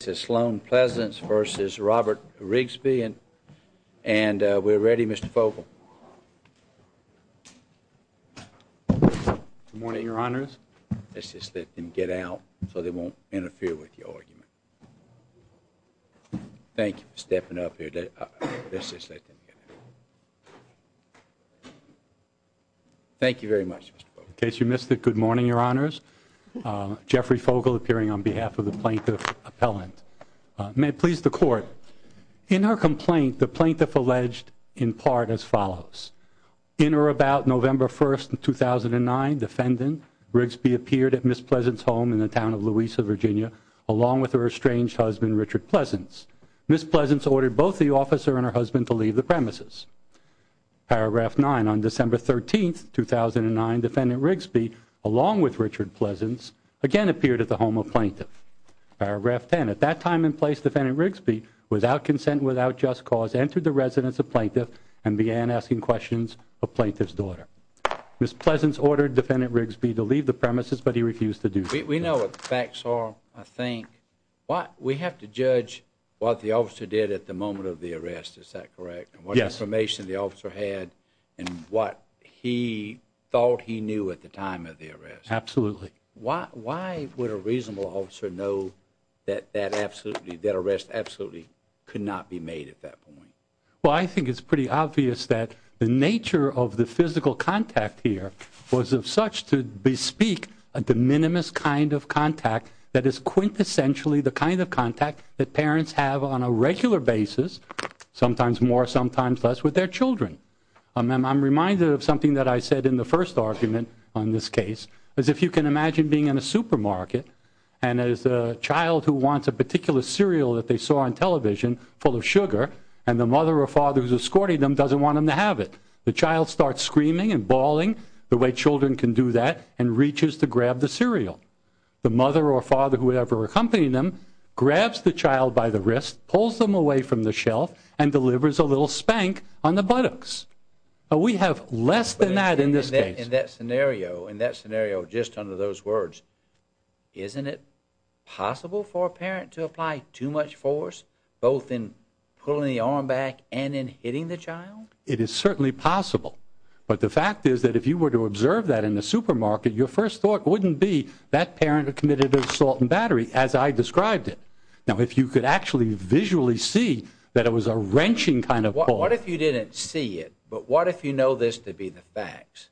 This is Sloan Pleasants v. Robert Rigsby, and we're ready, Mr. Fogle. Good morning, Your Honors. Let's just let them get out so they won't interfere with your argument. Thank you for stepping up here. Let's just let them get out. Thank you very much, Mr. Fogle. In case you missed it, good morning, Your Honors. Jeffrey Fogle appearing on behalf of the plaintiff appellant. May it please the Court, in her complaint, the plaintiff alleged in part as follows. In or about November 1st, 2009, Defendant Rigsby appeared at Ms. Pleasants' home in the town of Louisa, Virginia, along with her estranged husband, Richard Pleasants. Ms. Pleasants ordered both the officer and her husband to leave the premises. Paragraph 9, on December 13th, 2009, Defendant Rigsby, along with Richard Pleasants, again appeared at the home of Plaintiff. Paragraph 10, at that time and place, Defendant Rigsby, without consent, without just cause, entered the residence of Plaintiff and began asking questions of Plaintiff's daughter. Ms. Pleasants ordered Defendant Rigsby to leave the premises, but he refused to do so. We know what the facts are, I think. We have to judge what the officer did at the moment of the arrest, is that correct? Yes. And what information the officer had, and what he thought he knew at the time of the arrest. Absolutely. Why would a reasonable officer know that that arrest absolutely could not be made at that point? Well, I think it's pretty obvious that the nature of the physical contact here was of such to bespeak a de minimis kind of contact that is quintessentially the kind of contact that parents have on a regular basis, sometimes more, sometimes less, with their children. I'm reminded of something that I said in the first argument on this case, is if you can imagine being in a supermarket, and there's a child who wants a particular cereal that they saw on television, full of sugar, and the mother or father who's escorting them doesn't want them to have it. The child starts screaming and bawling, the way children can do that, and reaches to grab the cereal. The mother or father, whoever is accompanying them, grabs the child by the wrist, pulls them away from the shelf, and delivers a little spank on the buttocks. We have less than that in this case. In that scenario, just under those words, isn't it possible for a parent to apply too much force, both in pulling the arm back and in hitting the child? It is certainly possible, but the fact is that if you were to observe that in a supermarket, your first thought wouldn't be, that parent committed assault and battery, as I described it. Now, if you could actually visually see that it was a wrenching kind of pull. What if you didn't see it, but what if you know this to be the facts?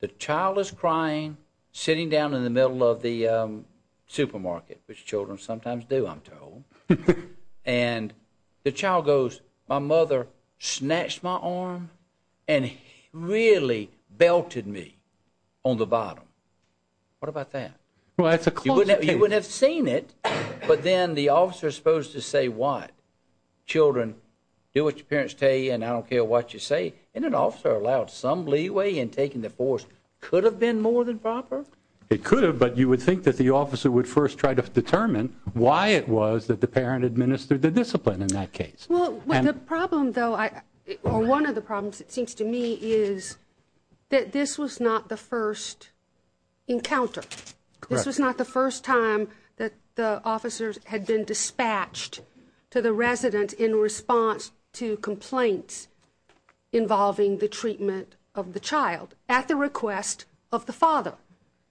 The child is crying, sitting down in the middle of the supermarket, which children sometimes do, I'm told, and the child goes, my mother snatched my arm and really belted me on the bottom. What about that? You wouldn't have seen it, but then the officer is supposed to say what? Children, do what your parents tell you, and I don't care what you say. And an officer allowed some leeway in taking the force. Could it have been more than proper? It could have, but you would think that the officer would first try to determine why it was that the parent administered the discipline in that case. The problem, though, or one of the problems, it seems to me, is that this was not the first encounter. This was not the first time that the officers had been dispatched to the resident in response to complaints involving the treatment of the child at the request of the father.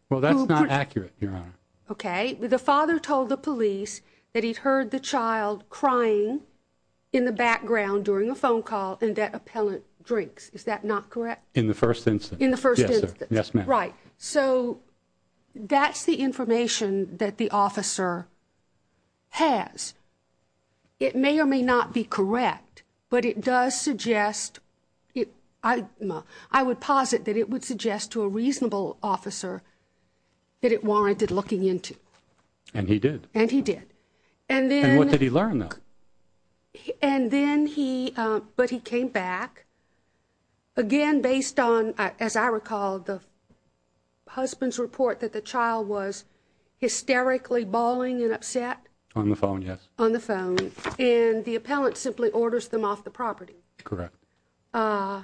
Well, that's not accurate, Your Honor. Okay. The father told the police that he'd heard the child crying in the background during a phone call and at appellant drinks. Is that not correct? In the first instance. In the first instance. Yes, sir. Yes, ma'am. Right. So that's the information that the officer has. It may or may not be correct, but it does suggest, I would posit that it would suggest to a reasonable officer that it warranted looking into. And he did. And he did. And what did he learn, though? And then he, but he came back. Again, based on, as I recall, the husband's report that the child was hysterically bawling and upset. On the phone, yes. On the phone. And the appellant simply orders them off the property. Correct. The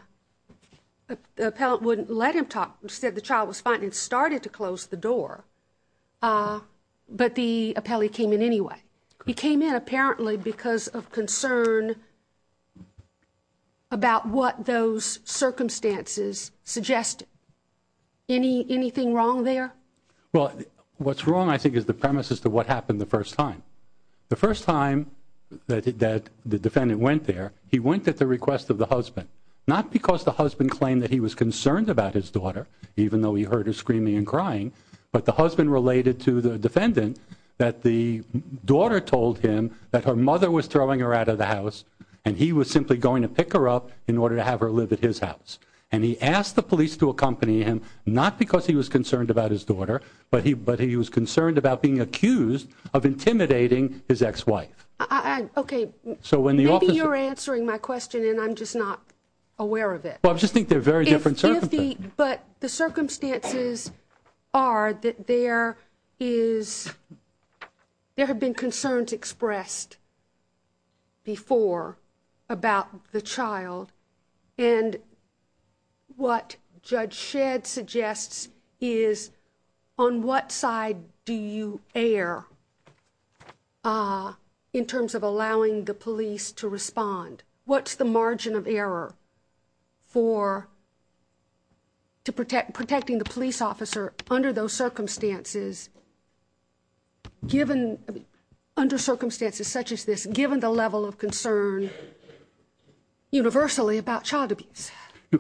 appellant wouldn't let him talk, said the child was fine and started to close the door. But the appellant came in anyway. He came in apparently because of concern about what those circumstances suggested. Anything wrong there? Well, what's wrong, I think, is the premise as to what happened the first time. The first time that the defendant went there, he went at the request of the husband. Not because the husband claimed that he was concerned about his daughter, even though he heard her screaming and crying. But the husband related to the defendant that the daughter told him that her mother was throwing her out of the house. And he was simply going to pick her up in order to have her live at his house. And he asked the police to accompany him, not because he was concerned about his daughter, but he was concerned about being accused of intimidating his ex-wife. Okay, maybe you're answering my question and I'm just not aware of it. Well, I just think they're very different circumstances. But the circumstances are that there have been concerns expressed before about the child. And what Judge Shedd suggests is, on what side do you err in terms of allowing the police to respond? What's the margin of error for protecting the police officer under circumstances such as this, given the level of concern universally about child abuse?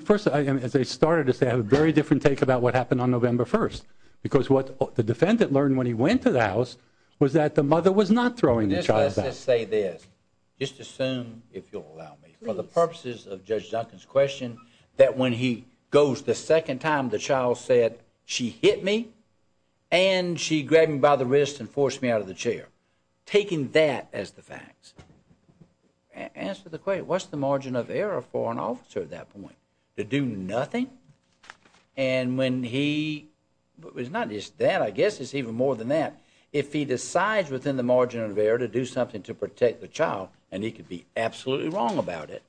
First, as I started to say, I have a very different take about what happened on November 1st. Because what the defendant learned when he went to the house was that the mother was not throwing the child out. Let's just say this, just assume, if you'll allow me, for the purposes of Judge Duncan's question, that when he goes the second time, the child said, she hit me and she grabbed me by the wrist and forced me out of the chair. Taking that as the facts, answer the question, what's the margin of error for an officer at that point? To do nothing? And when he, it's not just that, I guess it's even more than that. If he decides within the margin of error to do something to protect the child, and he could be absolutely wrong about it,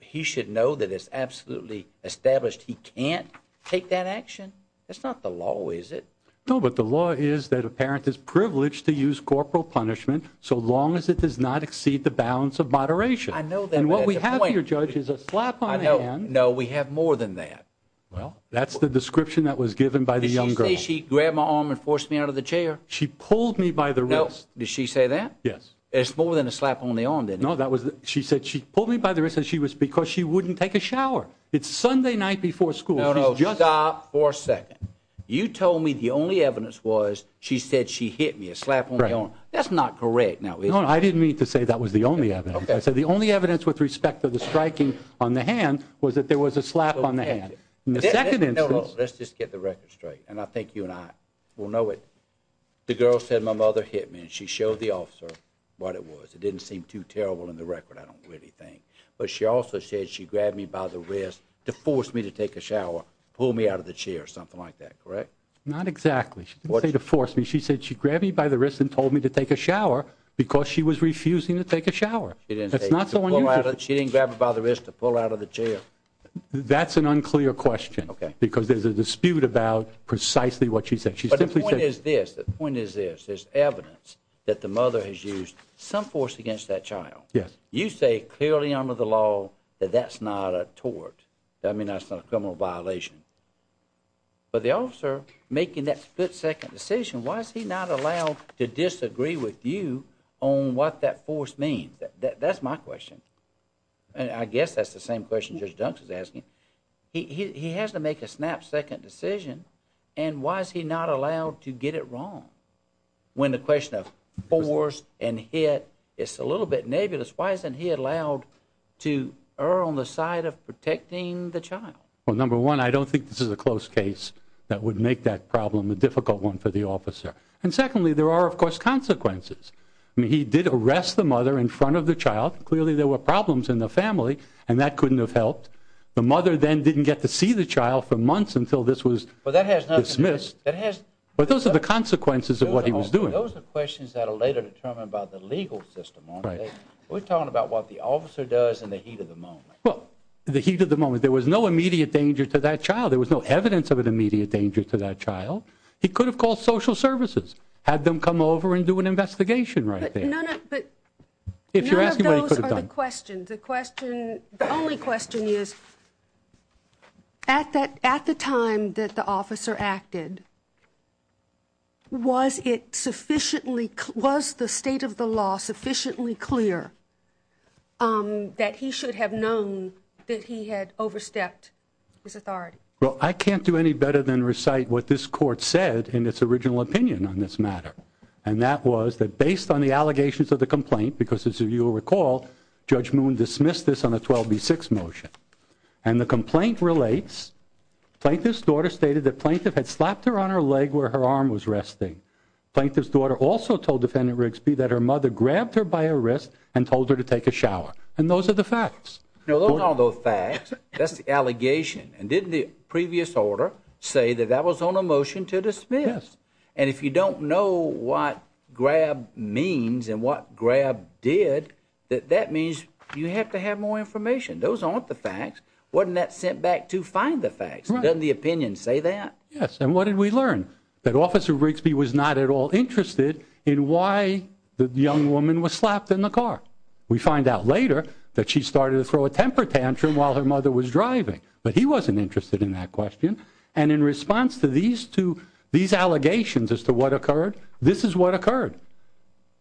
he should know that it's absolutely established he can't take that action. That's not the law, is it? No, but the law is that a parent is privileged to use corporal punishment so long as it does not exceed the balance of moderation. I know that, but that's a point. And what we have here, Judge, is a slap on the hand. No, we have more than that. Well, that's the description that was given by the young girl. Did she say she grabbed my arm and forced me out of the chair? She pulled me by the wrist. Did she say that? Yes. It's more than a slap on the arm, then. No, she said she pulled me by the wrist because she wouldn't take a shower. It's Sunday night before school. No, no, stop for a second. You told me the only evidence was she said she hit me, a slap on the arm. That's not correct. No, I didn't mean to say that was the only evidence. I said the only evidence with respect to the striking on the hand was that there was a slap on the hand. Let's just get the record straight, and I think you and I will know it. The girl said my mother hit me, and she showed the officer what it was. It didn't seem too terrible in the record, I don't really think. But she also said she grabbed me by the wrist to force me to take a shower, pull me out of the chair, something like that, correct? Not exactly. She didn't say to force me. She said she grabbed me by the wrist and told me to take a shower because she was refusing to take a shower. That's an unclear question because there's a dispute about precisely what she said. But the point is this. There's evidence that the mother has used some force against that child. You say clearly under the law that that's not a tort. I mean that's not a criminal violation. But the officer making that split-second decision, why is he not allowed to disagree with you on what that force means? That's my question. I guess that's the same question Judge Dunks is asking. He has to make a snap-second decision, and why is he not allowed to get it wrong? When the question of force and hit is a little bit nebulous, why isn't he allowed to err on the side of protecting the child? Well, number one, I don't think this is a close case that would make that problem a difficult one for the officer. And secondly, there are, of course, consequences. He did arrest the mother in front of the child. Clearly there were problems in the family, and that couldn't have helped. The mother then didn't get to see the child for months until this was dismissed. But those are the consequences of what he was doing. Those are questions that are later determined by the legal system, aren't they? We're talking about what the officer does in the heat of the moment. Well, the heat of the moment. There was no immediate danger to that child. There was no evidence of an immediate danger to that child. He could have called social services, had them come over and do an investigation right there. None of those are the questions. The only question is, at the time that the officer acted, was the state of the law sufficiently clear that he should have known that he had overstepped his authority? Well, I can't do any better than recite what this court said in its original opinion on this matter. And that was that based on the allegations of the complaint, because as you'll recall, Judge Moon dismissed this on a 12B6 motion. And the complaint relates, plaintiff's daughter stated that plaintiff had slapped her on her leg where her arm was resting. Plaintiff's daughter also told Defendant Rigsby that her mother grabbed her by her wrist and told her to take a shower. And those are the facts. No, those aren't the facts. That's the allegation. And didn't the previous order say that that was on a motion to dismiss? And if you don't know what grab means and what grab did, that means you have to have more information. Those aren't the facts. Wasn't that sent back to find the facts? Doesn't the opinion say that? Yes, and what did we learn? That Officer Rigsby was not at all interested in why the young woman was slapped in the car. We find out later that she started to throw a temper tantrum while her mother was driving. But he wasn't interested in that question. And in response to these allegations as to what occurred, this is what occurred.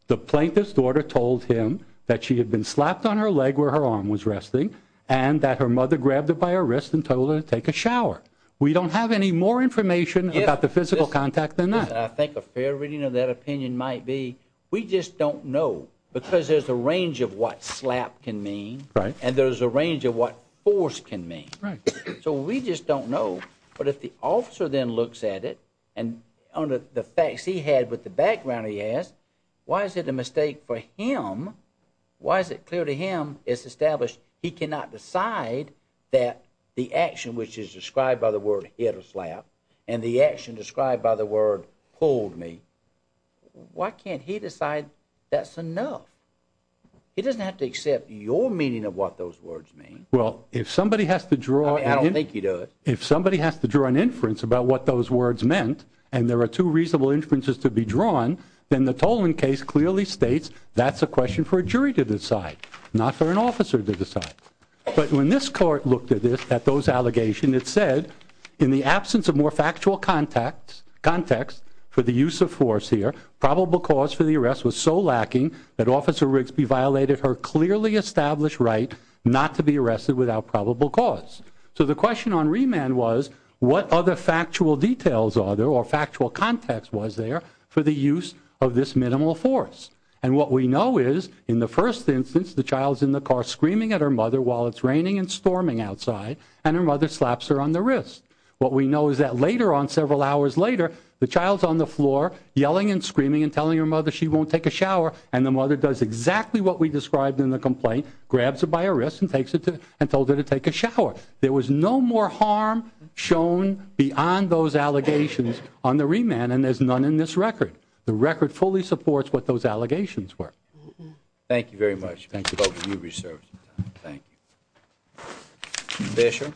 The plaintiff's daughter told him that she had been slapped on her leg where her arm was resting, and that her mother grabbed her by her wrist and told her to take a shower. We don't have any more information about the physical contact than that. I think a fair reading of that opinion might be, we just don't know. Because there's a range of what slap can mean, and there's a range of what force can mean. So we just don't know. But if the officer then looks at it, and on the facts he had with the background he has, why is it a mistake for him, why is it clear to him it's established he cannot decide that the action which is described by the word hit or slap, and the action described by the word pulled me, why can't he decide that's enough? He doesn't have to accept your meaning of what those words mean. Well, if somebody has to draw... I don't think you do it. If somebody has to draw an inference about what those words meant, and there are two reasonable inferences to be drawn, then the Toland case clearly states that's a question for a jury to decide, not for an officer to decide. But when this court looked at those allegations, it said, in the absence of more factual context for the use of force here, probable cause for the arrest was so lacking that Officer Rigsby violated her clearly established right not to be arrested without probable cause. So the question on remand was, what other factual details are there, or factual context was there for the use of this minimal force? And what we know is, in the first instance, the child's in the car screaming at her mother while it's raining and storming outside, and her mother slaps her on the wrist. What we know is that later on, several hours later, the child's on the floor yelling and screaming and telling her mother she won't take a shower, and the mother does exactly what we described in the complaint, grabs her by her wrist and told her to take a shower. There was no more harm shown beyond those allegations on the remand, and there's none in this record. The record fully supports what those allegations were. Thank you very much. Thank you. Both of you, you've served some time. Thank you. Fisher?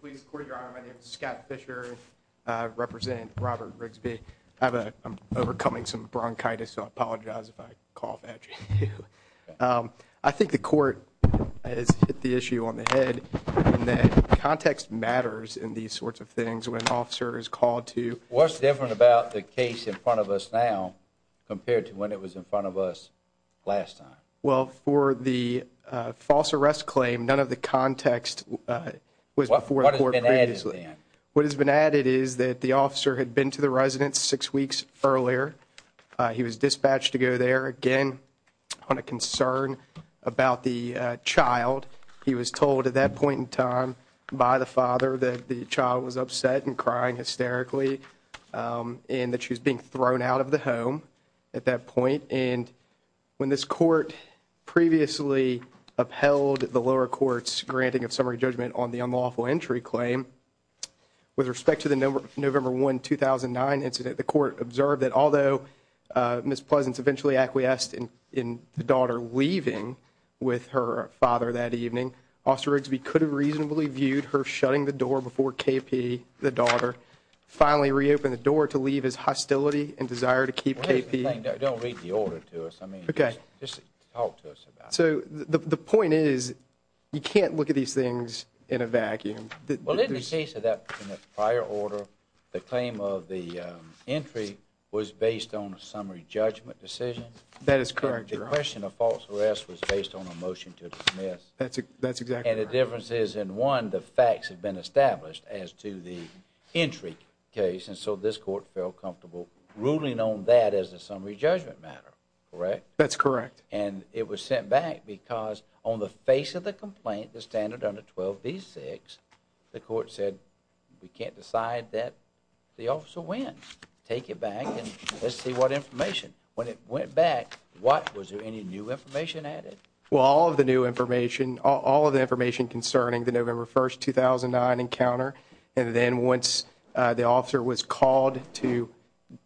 Please, Court, Your Honor, my name is Scott Fisher. I represent Robert Rigsby. I'm overcoming some bronchitis, so I apologize if I cough at you. I think the Court has hit the issue on the head in that context matters in these sorts of things when an officer is called to. What's different about the case in front of us now compared to when it was in front of us last time? Well, for the false arrest claim, none of the context was before the Court previously. What has been added then? earlier. He was dispatched to go there again on a concern about the child. He was told at that point in time by the father that the child was upset and crying hysterically and that she was being thrown out of the home at that point. And when this Court previously upheld the lower court's granting of summary judgment on the unlawful entry claim, with respect to the November 1, 2009 incident, the Court observed that although Ms. Pleasance eventually acquiesced in the daughter leaving with her father that evening, Officer Rigsby could have reasonably viewed her shutting the door before KP, the daughter, finally reopened the door to leave his hostility and desire to keep KP. Don't read the order to us. Just talk to us about it. The point is you can't look at these things in a vacuum. Well, in the case of that prior order, the claim of the entry was based on a summary judgment decision. That is correct, Your Honor. The question of false arrest was based on a motion to dismiss. That's exactly right. And the difference is, in one, the facts have been established as to the entry case, and so this Court felt comfortable ruling on that as a summary judgment matter, correct? That's correct. And it was sent back because on the face of the complaint, the standard under 12b-6, the Court said we can't decide that the officer wins. Take it back and let's see what information. When it went back, was there any new information added? Well, all of the new information, all of the information concerning the November 1, 2009 encounter, and then once the officer was called to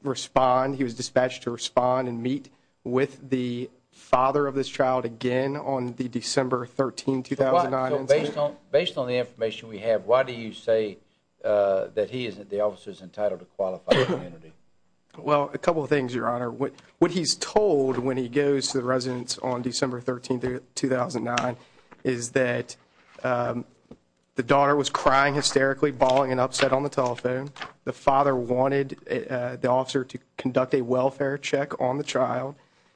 respond, he was dispatched to respond and meet with the father of this child again on the December 13, 2009 encounter. Based on the information we have, why do you say that the officer is entitled to qualified immunity? Well, a couple of things, Your Honor. What he's told when he goes to the residence on December 13, 2009, is that the daughter was crying hysterically, bawling and upset on the telephone. The father wanted the officer to conduct a welfare check on the child.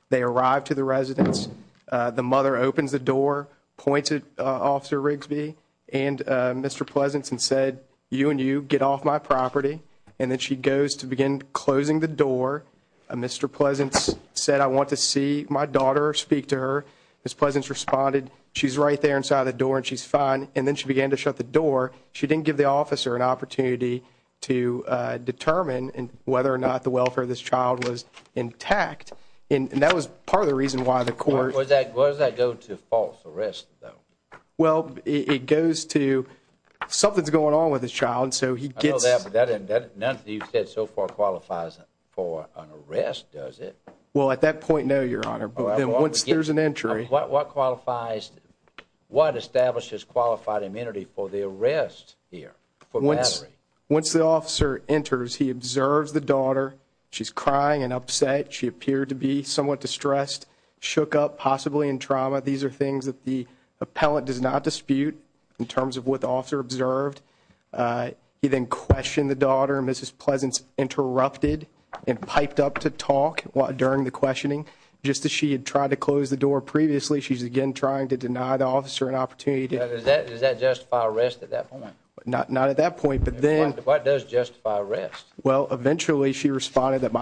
They arrived to the residence. The mother opens the door, points at Officer Rigsby and Mr. Pleasance and said, You and you get off my property. And then she goes to begin closing the door. Mr. Pleasance said, I want to see my daughter speak to her. Ms. Pleasance responded, she's right there inside the door and she's fine. And then she began to shut the door. She didn't give the officer an opportunity to determine whether or not the welfare of this child was intact. And that was part of the reason why the Court Why does that go to false arrest, though? Well, it goes to something's going on with this child, so he gets None of that you've said so far qualifies for an arrest, does it? Well, at that point, no, Your Honor. But once there's an entry What qualifies, what establishes qualified immunity for the arrest here? Once the officer enters, he observes the daughter. She's crying and upset. She appeared to be somewhat distressed, shook up, possibly in trauma. These are things that the appellant does not dispute in terms of what the officer observed. He then questioned the daughter. Mrs. Pleasance interrupted and piped up to talk during the questioning. Just as she had tried to close the door previously, she's again trying to deny the officer an opportunity to Does that justify arrest at that point? Not at that point, but then What does justify arrest? Well, eventually, she responded that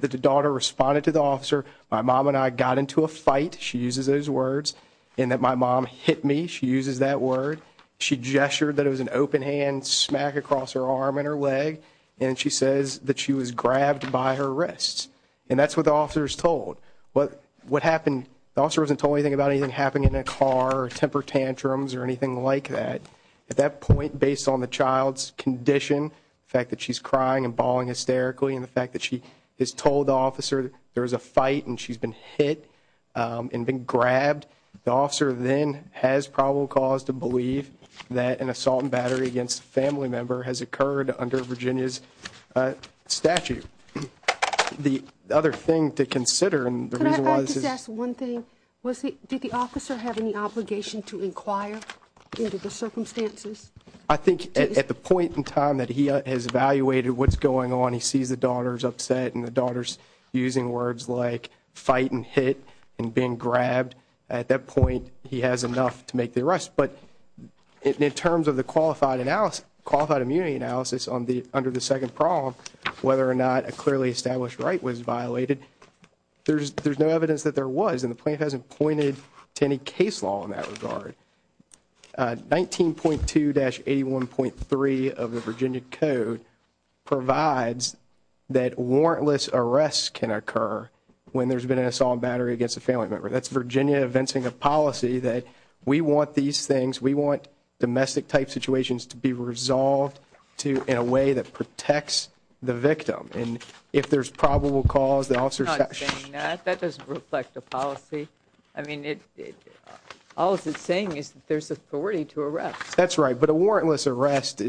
the daughter responded to the officer. My mom and I got into a fight. She uses those words. And that my mom hit me. She uses that word. She gestured that it was an open hand smack across her arm and her leg. And she says that she was grabbed by her wrists. And that's what the officer's told. What happened, the officer wasn't told anything about anything happening in a car or temper tantrums or anything like that. At that point, based on the child's condition, the fact that she's crying and bawling hysterically, and the fact that she has told the officer there was a fight and she's been hit and been grabbed, the officer then has probable cause to believe that an assault and battery against a family member has occurred under Virginia's statute. The other thing to consider, and the reason why this is Can I just ask one thing? Did the officer have any obligation to inquire into the circumstances? I think at the point in time that he has evaluated what's going on, he sees the daughter's upset and the daughter's using words like fight and hit and being grabbed. At that point, he has enough to make the arrest. But in terms of the qualified immunity analysis under the second prong, whether or not a clearly established right was violated, there's no evidence that there was, and the plaintiff hasn't pointed to any case law in that regard. 19.2-81.3 of the Virginia Code provides that warrantless arrests can occur when there's been an assault and battery against a family member. That's Virginia evincing a policy that we want these things, we want domestic-type situations to be resolved in a way that protects the victim. And if there's probable cause, the officer I'm not saying that. That doesn't reflect the policy. I mean, all it's saying is that there's authority to arrest. That's right. But a warrantless arrest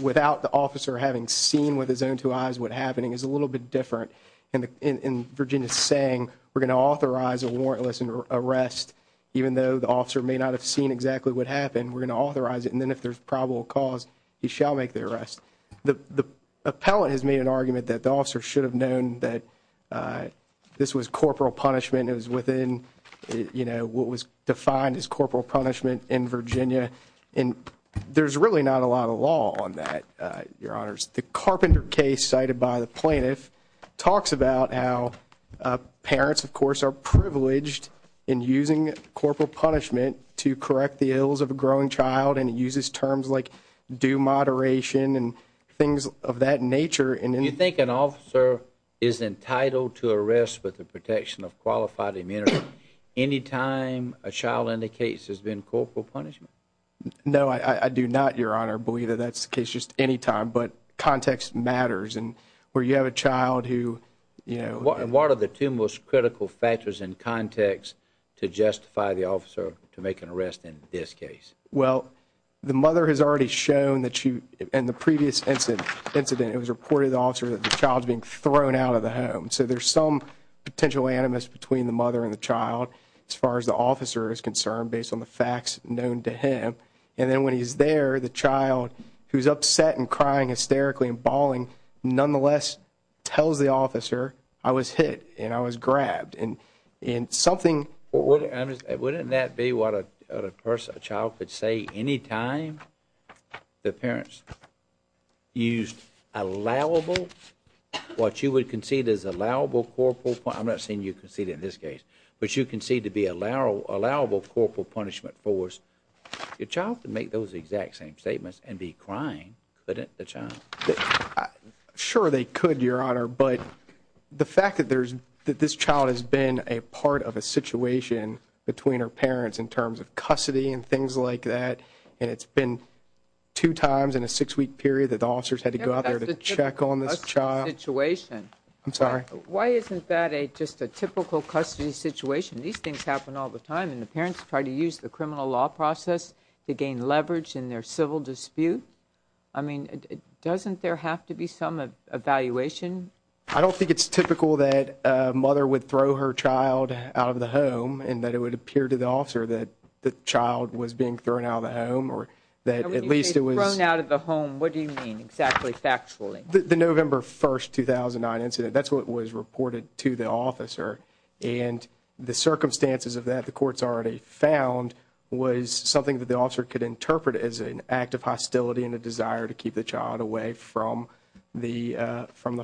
without the officer having seen with his own two eyes what's happening is a little bit different. And Virginia's saying we're going to authorize a warrantless arrest even though the officer may not have seen exactly what happened. We're going to authorize it. And then if there's probable cause, he shall make the arrest. The appellant has made an argument that the officer should have known that this was corporal punishment. It was within, you know, what was defined as corporal punishment in Virginia. And there's really not a lot of law on that, Your Honors. The Carpenter case cited by the plaintiff talks about how parents, of course, are privileged in using corporal punishment to correct the ills of a growing child. And it uses terms like due moderation and things of that nature. Do you think an officer is entitled to arrest with the protection of qualified immunity any time a child indicates there's been corporal punishment? No, I do not, Your Honor, believe that that's the case just any time. But context matters. And where you have a child who, you know. And what are the two most critical factors in context to justify the officer to make an arrest in this case? Well, the mother has already shown that she, in the previous incident, it was reported to the officer that the child's being thrown out of the home. So there's some potential animus between the mother and the child as far as the officer is concerned based on the facts known to him. And then when he's there, the child, who's upset and crying hysterically and bawling, nonetheless tells the officer, I was hit and I was grabbed. And something. Wouldn't that be what a child could say any time the parents used allowable, what you would concede is allowable corporal, I'm not saying you concede in this case, but you concede to be allowable corporal punishment force. Your child could make those exact same statements and be crying, couldn't the child? Sure, they could, Your Honor. But the fact that this child has been a part of a situation between her parents in terms of custody and things like that, and it's been two times in a six-week period that the officers had to go out there to check on this child. That's the typical custody situation. I'm sorry? Why isn't that just a typical custody situation? These things happen all the time. And the parents try to use the criminal law process to gain leverage in their civil dispute. I mean, doesn't there have to be some evaluation? I don't think it's typical that a mother would throw her child out of the home and that it would appear to the officer that the child was being thrown out of the home or that at least it was. When you say thrown out of the home, what do you mean exactly factually? The November 1, 2009 incident, that's what was reported to the officer. And the circumstances of that, the court's already found, was something that the officer could interpret as an act of hostility and a desire to keep the child away from the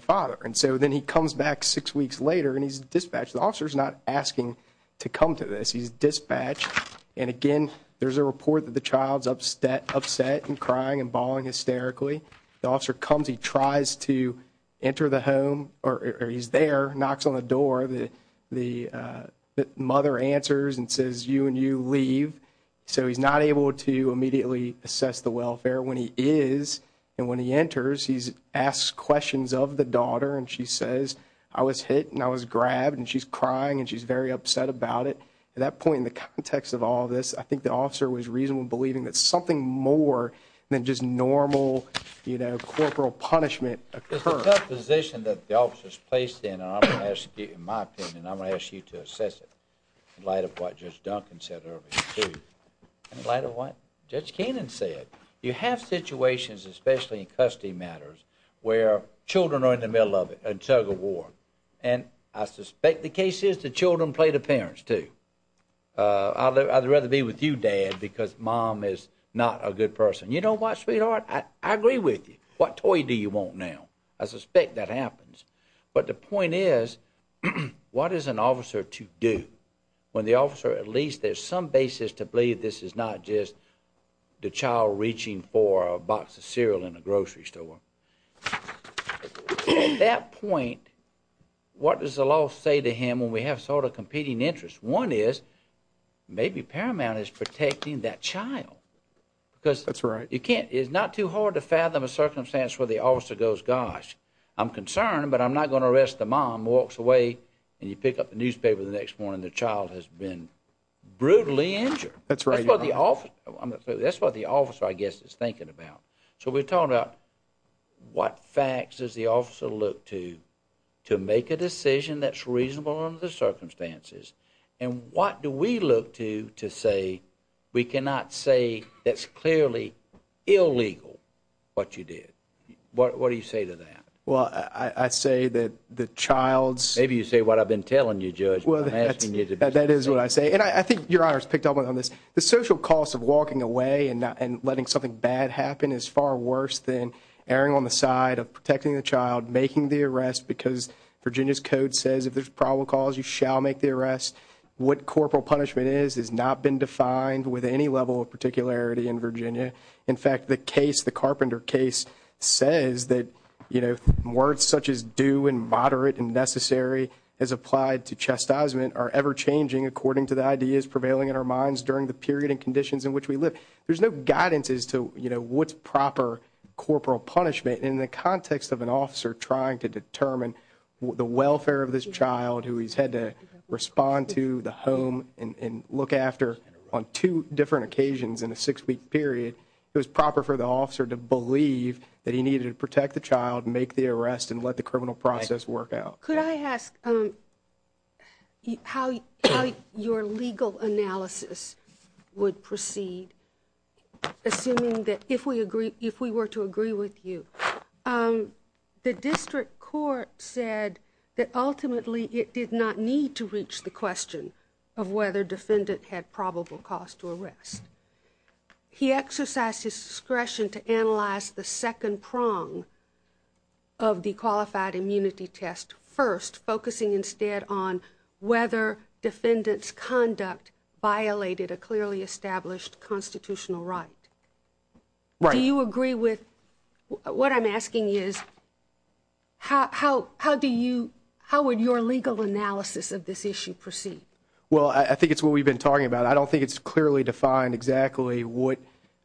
father. And so then he comes back six weeks later and he's dispatched. The officer's not asking to come to this. He's dispatched. And, again, there's a report that the child's upset and crying and bawling hysterically. The officer comes. He tries to enter the home or he's there, knocks on the door. The mother answers and says, you and you leave. So he's not able to immediately assess the welfare. When he is and when he enters, he asks questions of the daughter and she says, I was hit and I was grabbed and she's crying and she's very upset about it. At that point in the context of all this, I think the officer was reasonable in believing that something more than just normal corporal punishment occurred. It's a tough position that the officer's placed in and I'm going to ask you, in my opinion, I'm going to ask you to assess it in light of what Judge Duncan said earlier, too, in light of what Judge Keenan said. You have situations, especially in custody matters, where children are in the middle of it and tug of war. And I suspect the case is the children play the parents, too. I'd rather be with you, Dad, because Mom is not a good person. You know what, sweetheart? I agree with you. What toy do you want now? I suspect that happens. But the point is, what is an officer to do when the officer, at least, there's some basis to believe this is not just the child reaching for a box of cereal in a grocery store. At that point, what does the law say to him when we have sort of competing interests? One is, maybe Paramount is protecting that child. That's right. Because it's not too hard to fathom a circumstance where the officer goes, gosh, I'm concerned, but I'm not going to arrest the mom, walks away, and you pick up the newspaper the next morning the child has been brutally injured. That's right. That's what the officer, I guess, is thinking about. So we're talking about what facts does the officer look to to make a decision that's reasonable under the circumstances and what do we look to to say we cannot say that's clearly illegal what you did? What do you say to that? Well, I say that the child's Maybe you say what I've been telling you, Judge. That is what I say. And I think Your Honor's picked up on this. The social cost of walking away and letting something bad happen is far worse than erring on the side of protecting the child, making the arrest because Virginia's code says if there's probable cause, you shall make the arrest. What corporal punishment is has not been defined with any level of particularity in Virginia. In fact, the case, the Carpenter case, says that words such as do and moderate and necessary as applied to chastisement are ever changing according to the ideas prevailing in our minds during the period and conditions in which we live. There's no guidance as to what's proper corporal punishment In the context of an officer trying to determine the welfare of this child who he's had to respond to, the home, and look after on two different occasions in a six-week period, it was proper for the officer to believe that he needed to protect the child, make the arrest, and let the criminal process work out. Could I ask how your legal analysis would proceed, assuming that if we were to agree with you, the district court said that ultimately it did not need to reach the question of whether defendant had probable cause to arrest. He exercised his discretion to analyze the second prong of the qualified immunity test first, focusing instead on whether defendant's conduct violated a clearly established constitutional right. Do you agree with what I'm asking is how would your legal analysis of this issue proceed? Well, I think it's what we've been talking about. I don't think it's clearly defined exactly what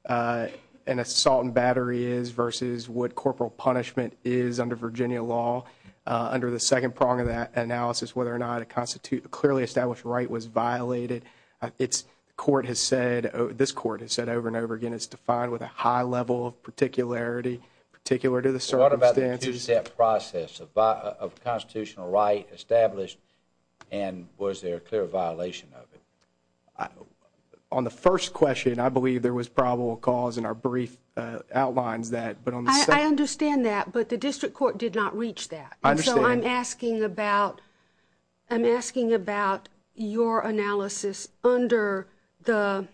an assault and battery is versus what corporal punishment is under Virginia law. Under the second prong of that analysis, whether or not a clearly established right was violated, this court has said over and over again it's defined with a high level of particularity, particular to the circumstances. What about the two-step process of constitutional right established, and was there a clear violation of it? On the first question, I believe there was probable cause, and our brief outlines that. I understand that, but the district court did not reach that. And so I'm asking about your analysis under the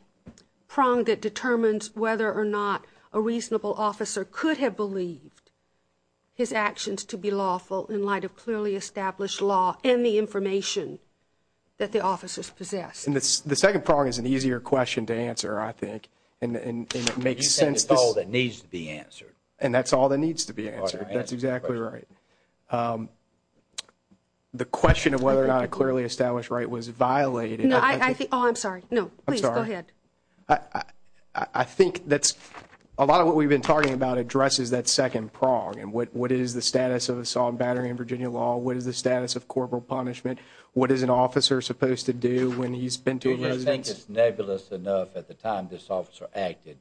prong that determines whether or not a reasonable officer could have believed his actions to be lawful in light of clearly established law and the information that the officers possessed. The second prong is an easier question to answer, I think, and it makes sense. That's all that needs to be answered. And that's all that needs to be answered. That's exactly right. The question of whether or not a clearly established right was violated. Oh, I'm sorry. No, please, go ahead. I think that's a lot of what we've been talking about addresses that second prong and what is the status of assault and battery in Virginia law, what is the status of corporal punishment, what is an officer supposed to do when he's been to a residence. I just think it's nebulous enough at the time this officer acted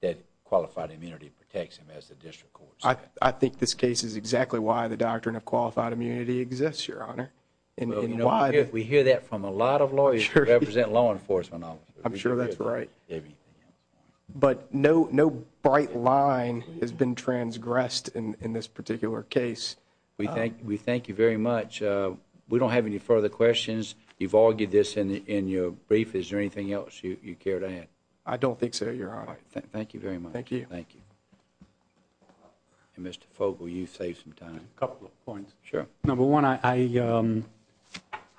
that qualified immunity protects him as a district court. I think this case is exactly why the doctrine of qualified immunity exists, Your Honor. We hear that from a lot of lawyers who represent law enforcement officers. I'm sure that's right. But no bright line has been transgressed in this particular case. We thank you very much. We don't have any further questions. You've argued this in your brief. Is there anything else you care to add? I don't think so, Your Honor. All right. Thank you very much. Thank you. Thank you. And, Mr. Fogle, you've saved some time. A couple of points. Sure. Number one, I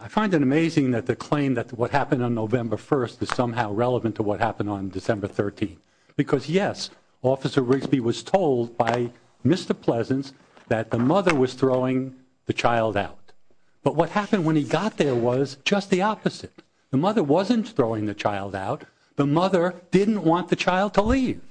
find it amazing that the claim that what happened on November 1st is somehow relevant to what happened on December 13th because, yes, Officer Rigsby was told by Mr. Pleasance that the mother was throwing the child out. But what happened when he got there was just the opposite. The mother wasn't throwing the child out. The mother didn't want the child to leave.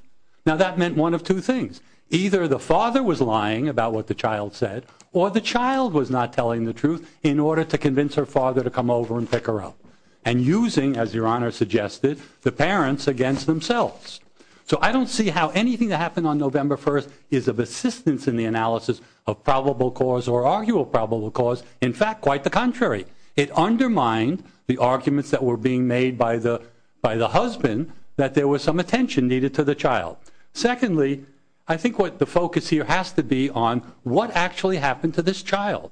Now, that meant one of two things. Either the father was lying about what the child said or the child was not telling the truth in order to convince her father to come over and pick her up and using, as Your Honor suggested, the parents against themselves. So I don't see how anything that happened on November 1st is of assistance in the analysis of probable cause or arguable probable cause. In fact, quite the contrary. It undermined the arguments that were being made by the husband that there was some attention needed to the child. Secondly, I think what the focus here has to be on what actually happened to this child.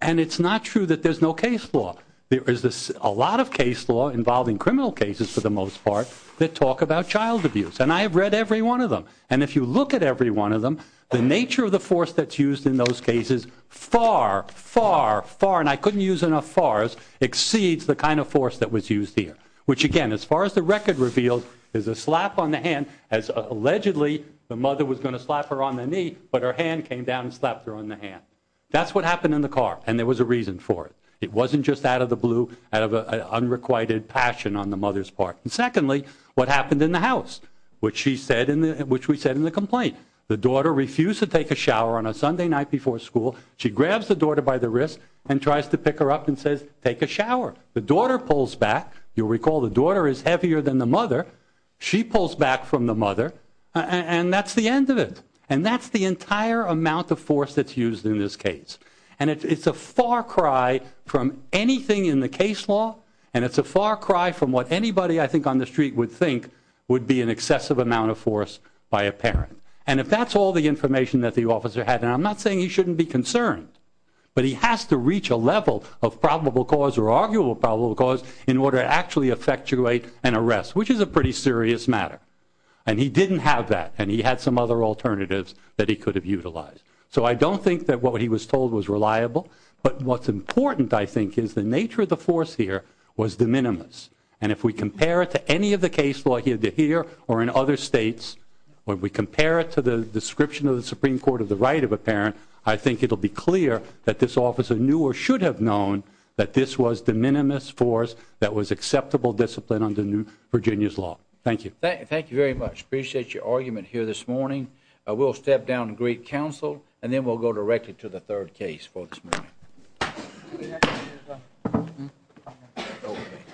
And it's not true that there's no case law. There is a lot of case law involving criminal cases, for the most part, that talk about child abuse. And I have read every one of them. And if you look at every one of them, the nature of the force that's used in those cases far, far, far, and I couldn't use enough fars, exceeds the kind of force that was used here. Which, again, as far as the record reveals, is a slap on the hand, as allegedly the mother was going to slap her on the knee, but her hand came down and slapped her on the hand. That's what happened in the car, and there was a reason for it. It wasn't just out of the blue, out of an unrequited passion on the mother's part. And secondly, what happened in the house, which we said in the complaint. The daughter refused to take a shower on a Sunday night before school. She grabs the daughter by the wrist and tries to pick her up and says, take a shower. The daughter pulls back. You'll recall the daughter is heavier than the mother. She pulls back from the mother, and that's the end of it. And that's the entire amount of force that's used in this case. And it's a far cry from anything in the case law, and it's a far cry from what anybody I think on the street would think would be an excessive amount of force by a parent. And if that's all the information that the officer had, and I'm not saying he shouldn't be concerned, but he has to reach a level of probable cause or arguable probable cause in order to actually effectuate an arrest, which is a pretty serious matter. And he didn't have that, and he had some other alternatives that he could have utilized. So I don't think that what he was told was reliable, but what's important, I think, is the nature of the force here was de minimis. And if we compare it to any of the case law here to here or in other states, when we compare it to the description of the Supreme Court of the right of a parent, I think it will be clear that this officer knew or should have known that this was de minimis force that was acceptable discipline under Virginia's law. Thank you. Thank you very much. Appreciate your argument here this morning. We'll step down and greet counsel, and then we'll go directly to the third case for this meeting.